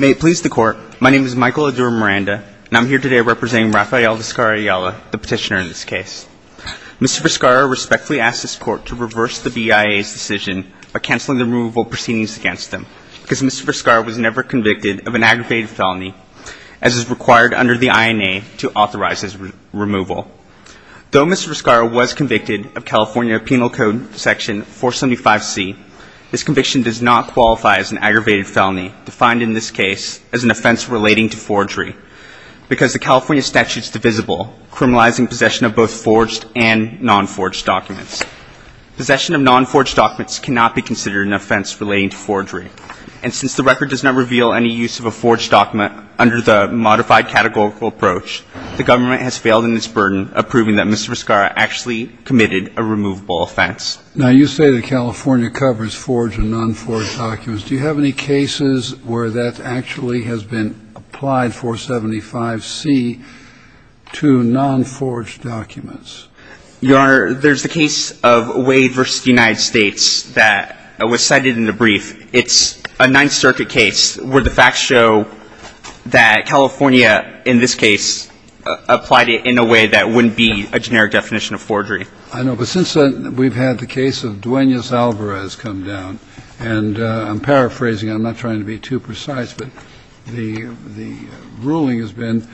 May it please the Court, my name is Michael Adura-Miranda, and I am here today to represent Rafael Vizcarra Ayala, the petitioner in this case. Mr. Vizcarra respectfully asked this court to reverse the BIA's decision by cancelling the removal proceedings against him, because Mr. Vizcarra was never convicted of an aggravated felony, as is required under the INA to authorize his removal. Though Mr. Vizcarra was convicted of California Penal Code Section 475C, his conviction does not qualify as an aggravated felony, defined in this case as an offense relating to forgery, because the California statute is divisible, criminalizing possession of both forged and non-forged documents. Possession of non-forged documents cannot be considered an offense relating to forgery. And since the record does not reveal any use of a forged document under the modified categorical approach, the government has failed in its burden of proving that Mr. Vizcarra actually committed a removable offense. Now you say that California covers forged and non-forged documents. Do you have any cases where that actually has been proven? I don't. I don't. I don't have any cases where California has applied 475C to non-forged documents. Your Honor, there's the case of Wade v. United States that was cited in the brief. It's a Ninth Circuit case where the facts show that California in this case applied it in a way that wouldn't be a generic definition of forgery. I know. But since then, we've had the case of Duenas-Alvarez come down. And I'm paraphrasing. I'm not trying to be too precise. But the ruling has been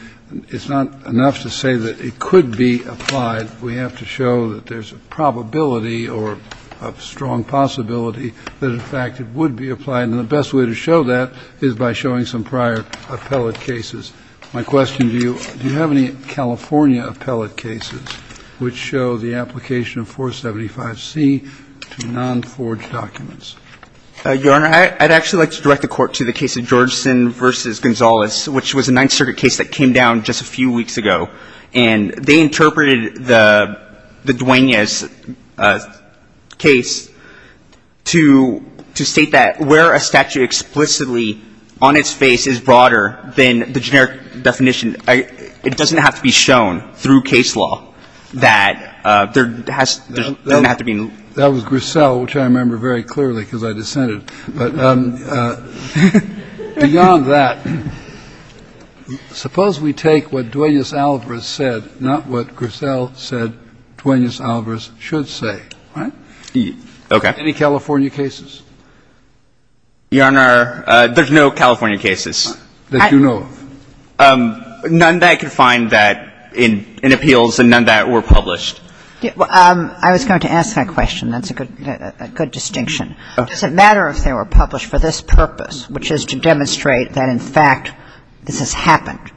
it's not enough to say that it could be applied. We have to show that there's a probability or a strong possibility that, in fact, it would be applied. And the best way to show that is by showing some prior appellate cases. My question to you, do you have any California appellate cases which show the application of 475C to non-forged documents? Your Honor, I'd actually like to direct the Court to the case of Georgeson v. Gonzales, which was a Ninth Circuit case that came down just a few weeks ago. And they interpreted the Duenas case to state that where a statute explicitly on its face is broader than the generic definition, it doesn't have to be shown through case law that there has to be no need to be. That was Griselle, which I remember very clearly because I dissented. But beyond that, suppose we take what Duenas-Alvarez said, not what Griselle said Duenas-Alvarez should say, right? Okay. Any California cases? Your Honor, there's no California cases. There's no? None that I could find that in appeals and none that were published. I was going to ask that question. That's a good distinction. Does it matter if they were published for this purpose, which is to demonstrate that in fact this has happened?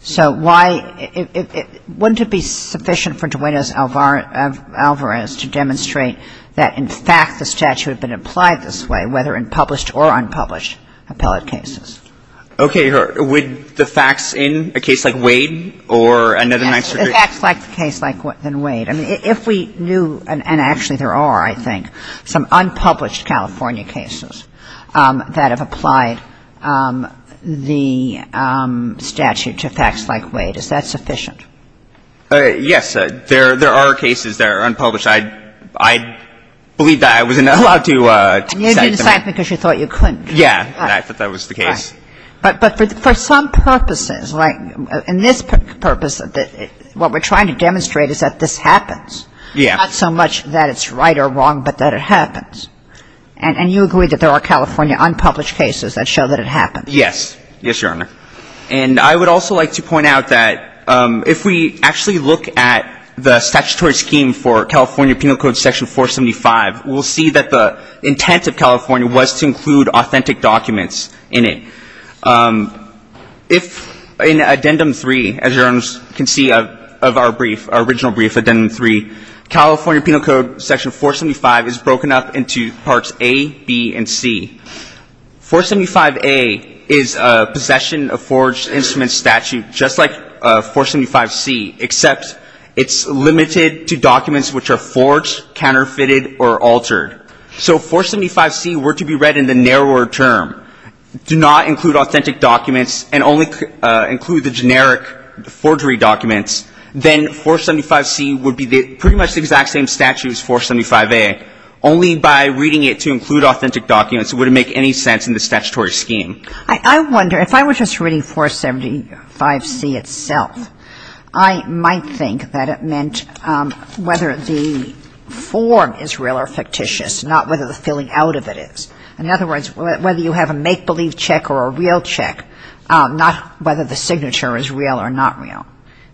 So why — wouldn't it be sufficient for Duenas-Alvarez to demonstrate that in fact the statute had been applied this way, whether in published or unpublished appellate cases? Okay, Your Honor. Would the facts in a case like Wade or another maximum degree? The facts like the case like Wade. I mean, if we knew — and actually there are, I think, some unpublished California cases that have applied the statute to facts like Wade, is that sufficient? Yes. There are cases that are unpublished. I believe that I wasn't allowed to cite them. And you didn't cite them because you thought you couldn't. Yeah. I thought that was the case. Right. But for some purposes, like in this purpose, what we're trying to demonstrate is that this happens. Yeah. Not so much that it's right or wrong, but that it happens. And you agree that there are California unpublished cases that show that it happens. Yes. Yes, Your Honor. And I would also like to point out that if we actually look at the statutory scheme for California Penal Code Section 475, we'll see that the intent of California was to include authentic documents in it. If in Addendum 3, as Your Honors can see of our brief, our original brief, Addendum 3, California Penal Code Section 475 is broken up into Parts A, B, and C. 475A is a possession of forged instrument statute just like 475C, except it's limited to documents which are forged, counterfeited, or altered. So if 475C were to be read in the narrower term, do not include authentic documents, and only include the generic forgery documents, then 475C would be pretty much the exact same as 475A, only by reading it to include authentic documents it wouldn't make any sense in the statutory scheme. I wonder, if I were just reading 475C itself, I might think that it meant whether the form is real or fictitious, not whether the filling out of it is. In other words, whether you have a make-believe check or a real check, not whether the signature is real or not real.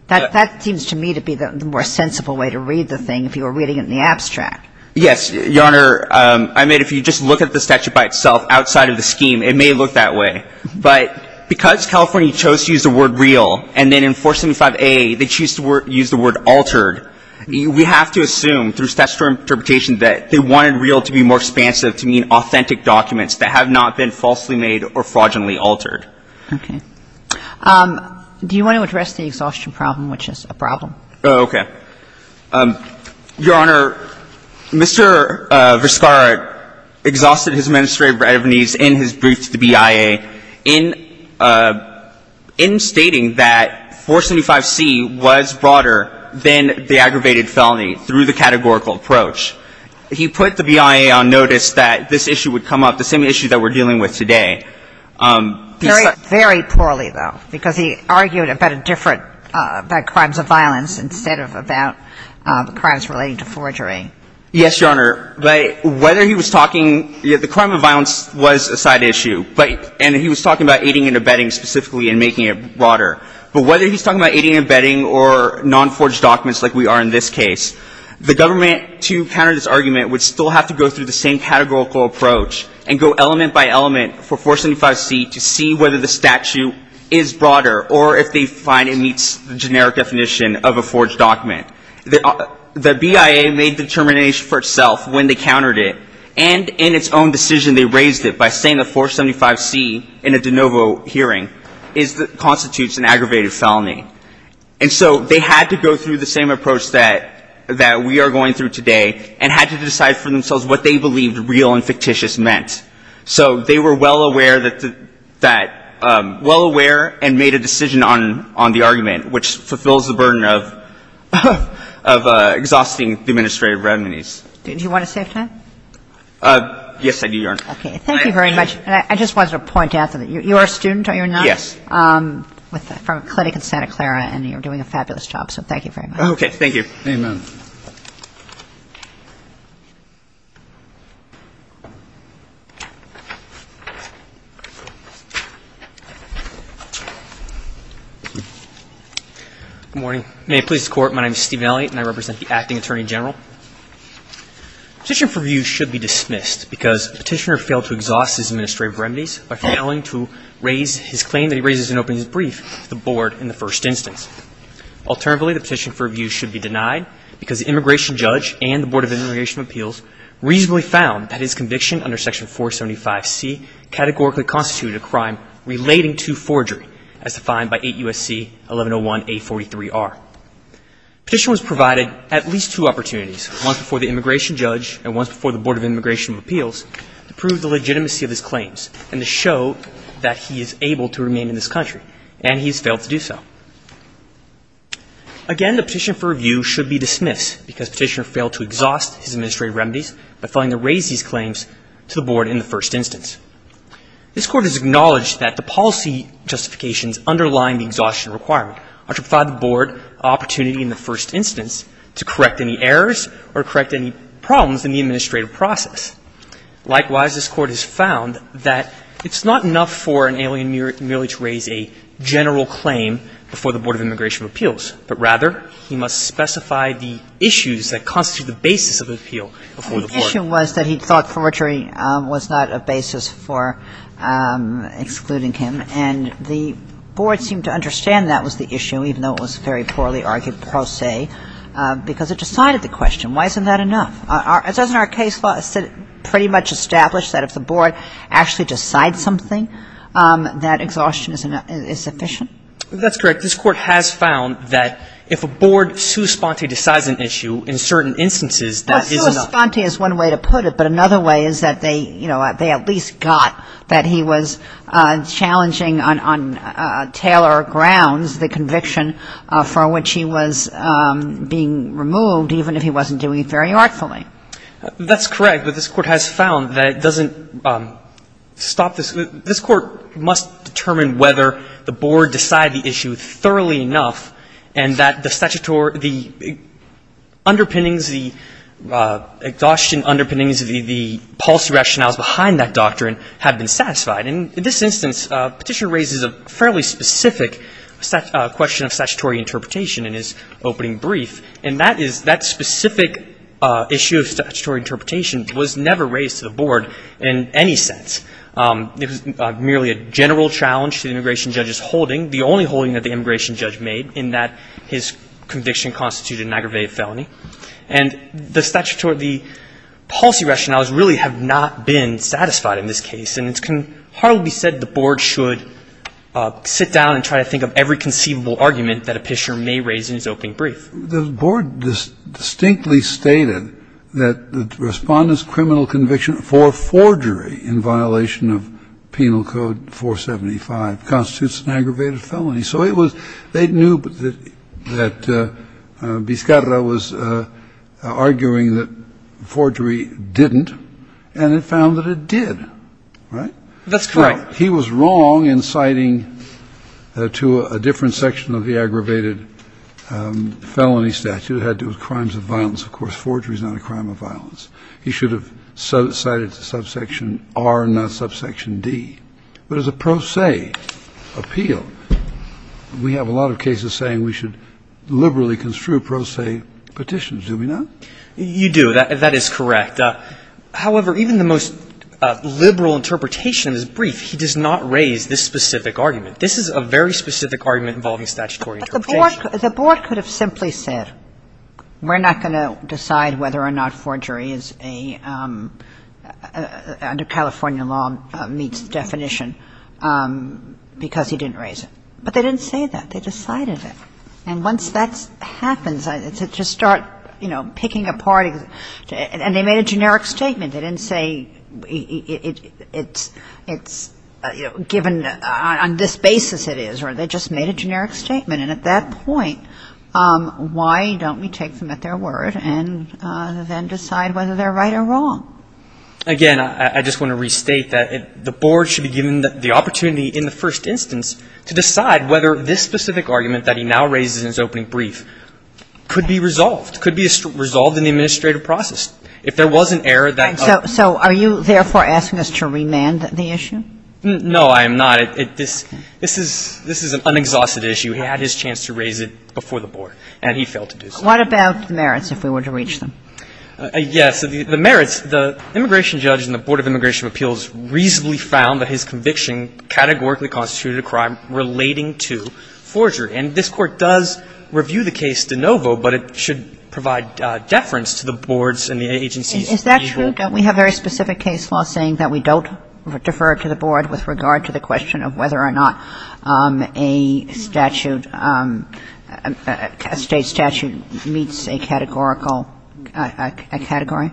That seems to me to be the more sensible way to read the thing if you were reading it in the abstract. Yes, Your Honor. I mean, if you just look at the statute by itself outside of the scheme, it may look that way. But because California chose to use the word real, and then in 475A they choose to use the word altered, we have to assume through statutory interpretation that they wanted real to be more expansive to mean authentic documents that have not been falsely made or fraudulently altered. Okay. Do you want to address the exhaustion problem, which is a problem? Oh, okay. Your Honor, Mr. Vizcarra exhausted his administrative readiness in his brief to the BIA in stating that 475C was broader than the aggravated felony through the categorical approach. He put the BIA on notice that this issue would come up, the same issue that we're dealing with today. Very, very poorly, though, because he argued about a different – about crimes of violence instead of about crimes relating to forgery. Yes, Your Honor. Whether he was talking – the crime of violence was a side issue, and he was talking about aiding and abetting specifically and making it broader. But whether he's talking about aiding and abetting or non-forged documents like we are in this case, the government, to counter this argument, would still have to go through the same categorical approach and go element by element for 475C to see whether the statute is broader or if they find it meets the generic definition of a forged document. The BIA made the determination for itself when they countered it, and in its own decision they raised it by saying that 475C in a de novo hearing constitutes an aggravated felony. And so they had to go through the same approach that we are going through today and had to decide for themselves what they believed real and fictitious meant. So they were well aware that – well aware and made a decision on the argument which fulfills the burden of exhausting the administrative remedies. Do you want to save time? Yes, I do, Your Honor. Okay. Thank you very much. I just wanted to point out that you are a student, are you not? Yes. From a clinic in Santa Clara, and you're doing a fabulous job. So thank you very much. Okay. Thank you. Amen. Good morning. May it please the Court, my name is Stephen Elliott and I represent the Acting Attorney General. Petition for review should be dismissed because the petitioner failed to exhaust his administrative remedies by failing to raise his claim that he raises in opening his brief to the Board in the first instance. Alternatively, the petition for review should be denied because the immigration judge and the Board of Immigration Appeals reasonably found that his conviction under Section 475C categorically constituted a crime relating to forgery as defined by 8 U.S.C. 1101A43R. Petition was provided at least two opportunities, once before the immigration judge and once before the Board of Immigration Appeals, to prove the legitimacy of his claims and to show that he is able to remain in this country, and he has failed to do so. Again, the petition for review should be dismissed because the petitioner failed to exhaust his administrative remedies by failing to raise his claims to the Board in the first instance. This Court has acknowledged that the policy justifications underlying the exhaustion requirement are to provide the Board an opportunity in the first instance to correct any errors or correct any problems in the administrative process. Likewise, this Court has found that it's not enough for an alien merely to raise a general claim before the Board of Immigration Appeals, but rather he must specify the issues that constitute the basis of the appeal before the Board. The issue was that he thought forgery was not a basis for excluding him, and the Board seemed to understand that was the issue, even though it was very poorly argued per se, because it decided the question. Why isn't that enough? Doesn't our case law pretty much establish that if the Board actually decides something, that exhaustion is sufficient? That's correct. This Court has found that if a Board sui sponte decides an issue in certain instances, that is enough. Well, sui sponte is one way to put it, but another way is that they, you know, they at least got that he was challenging on Taylor grounds the conviction for which he was being removed, even if he wasn't doing it very artfully. That's correct, but this Court has found that it doesn't stop this. This Court must determine whether the Board decided the issue thoroughly enough, and that the statutory, the underpinnings, the exhaustion underpinnings, the policy rationales behind that doctrine have been satisfied. And in this instance, Petitioner raises a fairly specific question of statutory interpretation in his opening brief, and that is that specific issue of statutory interpretation was never raised to the Board in any sense. It was merely a general challenge to the immigration judge's holding, the only holding that the immigration judge made, in that his conviction constituted an aggravated felony. And the statutory, the policy rationales really have not been satisfied in this case, and it can hardly be said the Board should sit down and try to think of every conceivable argument that a Petitioner may raise in his opening brief. The Board distinctly stated that the Respondent's criminal conviction for forgery in violation of Penal Code 475 constitutes an aggravated felony. So it was they knew that Biscarra was arguing that forgery didn't, and it found that it did, right? That's correct. He was wrong in citing to a different section of the aggravated felony statute. It had to do with crimes of violence. Of course, forgery is not a crime of violence. He should have cited subsection R and not subsection D. But as a pro se appeal, we have a lot of cases saying we should liberally construe pro se petitions. Do we not? You do. That is correct. But, however, even the most liberal interpretation of his brief, he does not raise this specific argument. This is a very specific argument involving statutory interpretation. But the Board could have simply said we're not going to decide whether or not forgery is a, under California law, meets definition because he didn't raise it. But they didn't say that. They decided it. And once that happens, to start, you know, picking apart, and they made a generic statement. They didn't say it's given on this basis it is, or they just made a generic statement. And at that point, why don't we take them at their word and then decide whether they're right or wrong? Again, I just want to restate that the Board should be given the opportunity in the first instance to decide whether this specific argument that he now raises in his opening brief could be resolved, could be resolved in the administrative process. If there was an error that other ---- So are you, therefore, asking us to remand the issue? No, I am not. This is an unexhausted issue. He had his chance to raise it before the Board, and he failed to do so. What about merits, if we were to reach them? Yes. The merits, the immigration judge and the Board of Immigration Appeals reasonably found that his conviction categorically constituted a crime relating to forgery. And this Court does review the case de novo, but it should provide deference to the Boards and the agencies. Is that true that we have very specific case law saying that we don't defer to the Board with regard to the question of whether or not a statute, a State statute meets a categorical, a category?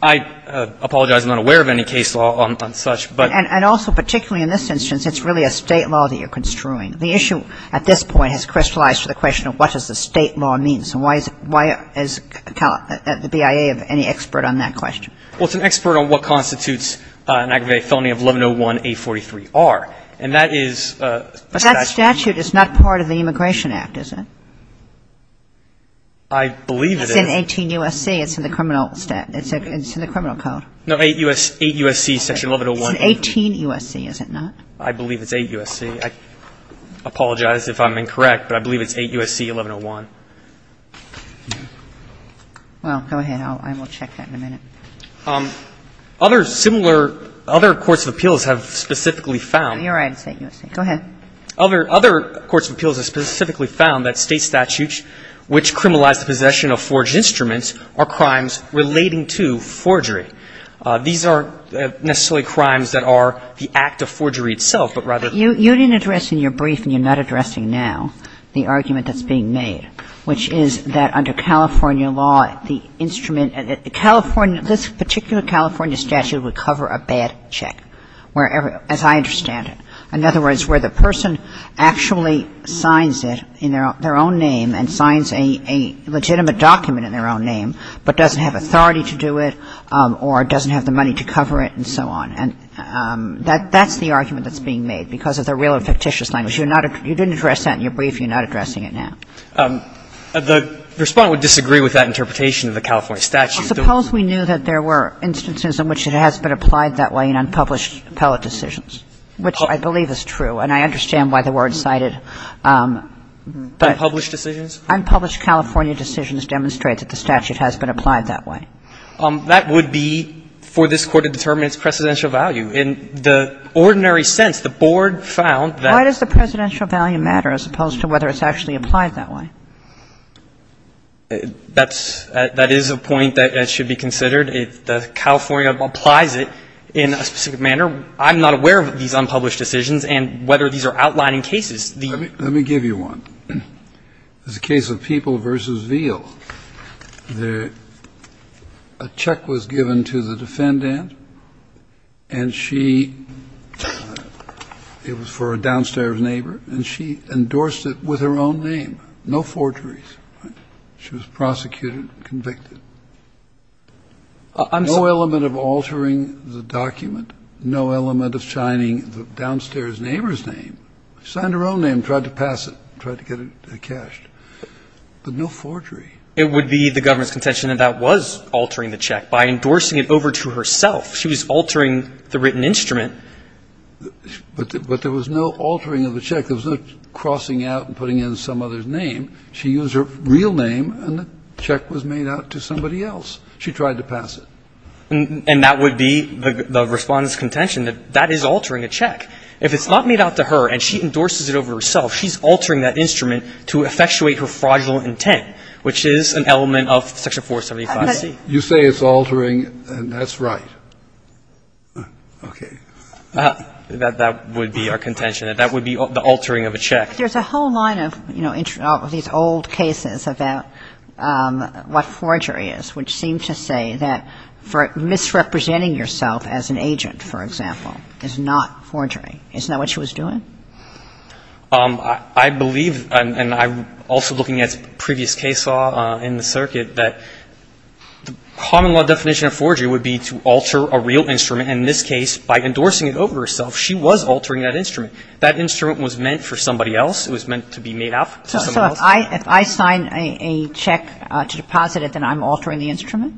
I apologize. I'm not aware of any case law on such, but ---- And also particularly in this instance, it's really a State law that you're construing. The issue at this point has crystallized to the question of what does the State law mean. So why is the BIA any expert on that question? Well, it's an expert on what constitutes an aggravated felony of 1101A43R. And that is ---- But that statute is not part of the Immigration Act, is it? I believe it is. It's in 18 U.S.C. It's in the criminal statute. It's in the criminal code. No, 8 U.S.C. Section 1101. It's in 18 U.S.C., is it not? I believe it's 8 U.S.C. I apologize if I'm incorrect, but I believe it's 8 U.S.C. 1101. Well, go ahead. I will check that in a minute. Other similar ---- other courts of appeals have specifically found ---- You're right, it's 8 U.S.C. Go ahead. Other courts of appeals have specifically found that State statutes which criminalize possession of forged instruments are crimes relating to forgery. These are necessarily crimes that are the act of forgery itself, but rather ---- You didn't address in your brief, and you're not addressing now, the argument that's being made, which is that under California law, the instrument ---- this particular California statute would cover a bad check, as I understand it. In other words, where the person actually signs it in their own name and signs a legitimate document in their own name, but doesn't have authority to do it or doesn't have the money to cover it and so on. And that's the argument that's being made because of the real and fictitious language. You're not ---- you didn't address that in your brief. You're not addressing it now. The Respondent would disagree with that interpretation of the California statute. I suppose we knew that there were instances in which it has been applied that way in unpublished appellate decisions. Which I believe is true, and I understand why the word cited. Unpublished decisions? Unpublished California decisions demonstrate that the statute has been applied that way. That would be for this Court to determine its precedential value. In the ordinary sense, the Board found that ---- Why does the precedential value matter as opposed to whether it's actually applied that way? That's ---- that is a point that should be considered. The California applies it in a specific manner. I'm not aware of these unpublished decisions and whether these are outlining cases. The ---- Let me give you one. It's a case of People v. Veal. A check was given to the defendant and she ---- it was for a downstairs neighbor and she endorsed it with her own name. No forgeries. She was prosecuted and convicted. I'm sorry. No element of altering the document, no element of signing the downstairs neighbor's name. Signed her own name, tried to pass it, tried to get it cashed. But no forgery. It would be the government's contention that that was altering the check. By endorsing it over to herself, she was altering the written instrument. But there was no altering of the check. There was no crossing out and putting in some other's name. She used her real name and the check was made out to somebody else. She tried to pass it. And that would be the Respondent's contention that that is altering a check. If it's not made out to her and she endorses it over to herself, she's altering that instrument to effectuate her fraudulent intent, which is an element of Section 475C. You say it's altering, and that's right. Okay. That would be our contention. That would be the altering of a check. But there's a whole line of, you know, of these old cases about what forgery is, which seem to say that for misrepresenting yourself as an agent, for example, is not forgery. Isn't that what she was doing? I believe, and I'm also looking at previous case law in the circuit, that the common law definition of forgery would be to alter a real instrument. And in this case, by endorsing it over to herself, she was altering that instrument. That instrument was meant for somebody else. It was meant to be made out to somebody else. So if I sign a check to deposit it, then I'm altering the instrument?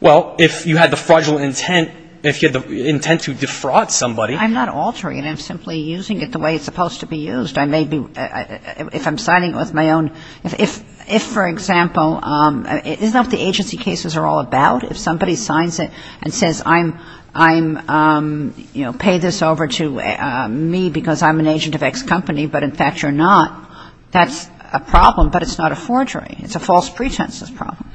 Well, if you had the fraudulent intent, if you had the intent to defraud somebody. I'm not altering it. I'm simply using it the way it's supposed to be used. I may be – if I'm signing it with my own – if, for example, isn't that what the agency cases are all about? If somebody signs it and says, I'm – you know, pay this over to me because I'm an agent of X company, but in fact you're not, that's a problem, but it's not a forgery. It's a false pretenses problem.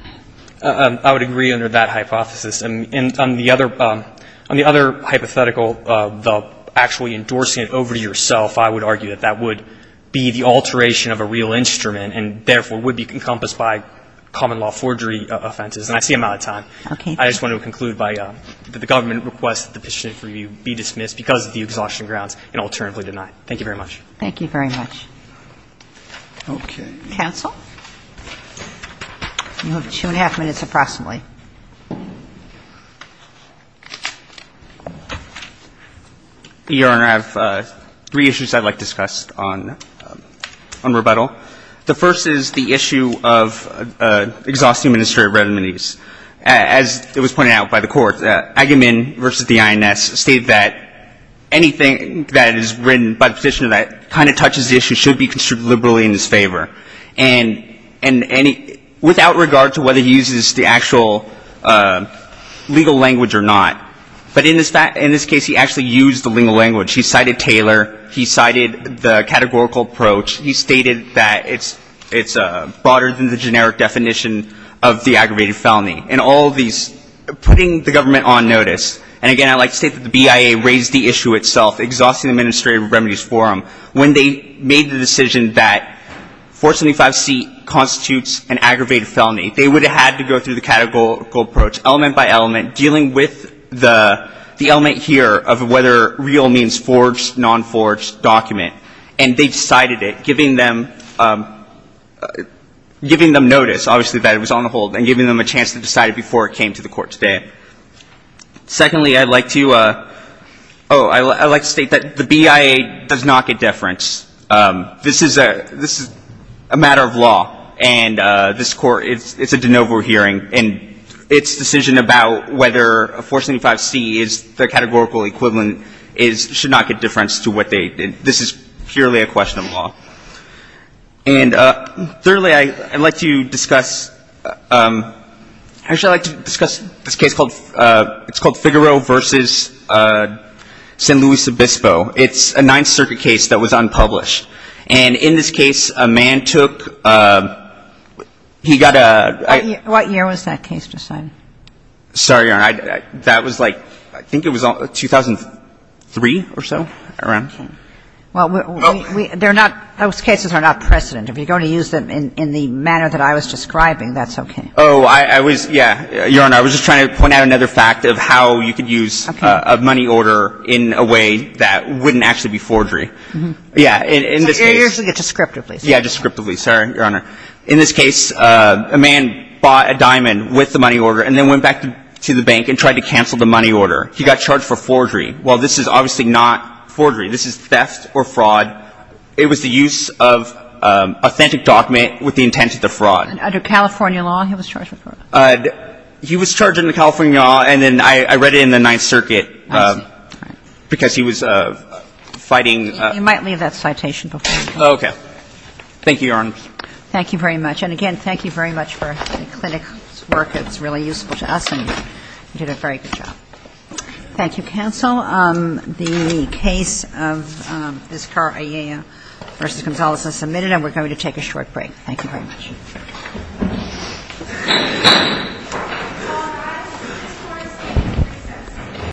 I would agree under that hypothesis. And on the other hypothetical, the actually endorsing it over to yourself, I would argue that that would be the alteration of a real instrument and, therefore, would be encompassed by common law forgery offenses. And I see I'm out of time. Okay. I just want to conclude by the government request that the petition for review be dismissed because of the exhaustion grounds and alternatively denied. Thank you very much. Thank you very much. Okay. Counsel? You have two and a half minutes approximately. Your Honor, I have three issues I'd like to discuss on rebuttal. The first is the issue of exhaustive administrative remedies. As it was pointed out by the court, Agamemnon versus the INS state that anything that is written by the petitioner that kind of touches the issue should be construed liberally in his favor. And without regard to whether he uses the actual legal language or not, but in this case he actually used the legal language. He cited Taylor. He cited the categorical approach. He stated that it's broader than the generic definition of the aggravated felony. In all of these, putting the government on notice, and, again, I'd like to state that the BIA raised the issue itself, exhaustive administrative remedies forum. When they made the decision that 475C constitutes an aggravated felony, they would have had to go through the categorical approach element by element, dealing with the element here of whether real means forged, non-forged, document. And they decided it, giving them notice, obviously, that it was on the hold, and giving them a chance to decide it before it came to the court today. Secondly, I'd like to state that the BIA does not get deference. This is a matter of law. And this Court, it's a de novo hearing. And its decision about whether 475C is the categorical equivalent should not get deference to what they did. This is purely a question of law. And thirdly, I'd like to discuss, actually, I'd like to discuss this case called, it's called Figaro v. San Luis Obispo. It's a Ninth Circuit case that was unpublished. And in this case, a man took, he got a ‑‑ What year was that case decided? Sorry, Your Honor. That was like, I think it was 2003 or so, around. Okay. Well, we, they're not, those cases are not precedent. If you're going to use them in the manner that I was describing, that's okay. Oh, I was, yeah. Your Honor, I was just trying to point out another fact of how you could use a money order in a way that wouldn't actually be forgery. Yeah. So you're using it descriptively. Yeah, descriptively. Sorry, Your Honor. In this case, a man bought a diamond with the money order and then went back to the bank and tried to cancel the money order. He got charged for forgery. Well, this is obviously not forgery. This is theft or fraud. It was the use of authentic document with the intent of the fraud. Under California law, he was charged with fraud. He was charged under California law, and then I read it in the Ninth Circuit because he was fighting. You might leave that citation before you go. Okay. Thank you, Your Honor. Thank you very much. And, again, thank you very much for the clinic's work. It's really useful to us, and you did a very good job. Thank you, counsel. The case of Viscar Aella v. Gonzalez is submitted, and we're going to take a short break. Thank you. Thank you. Thank you. Thank you. Thank you.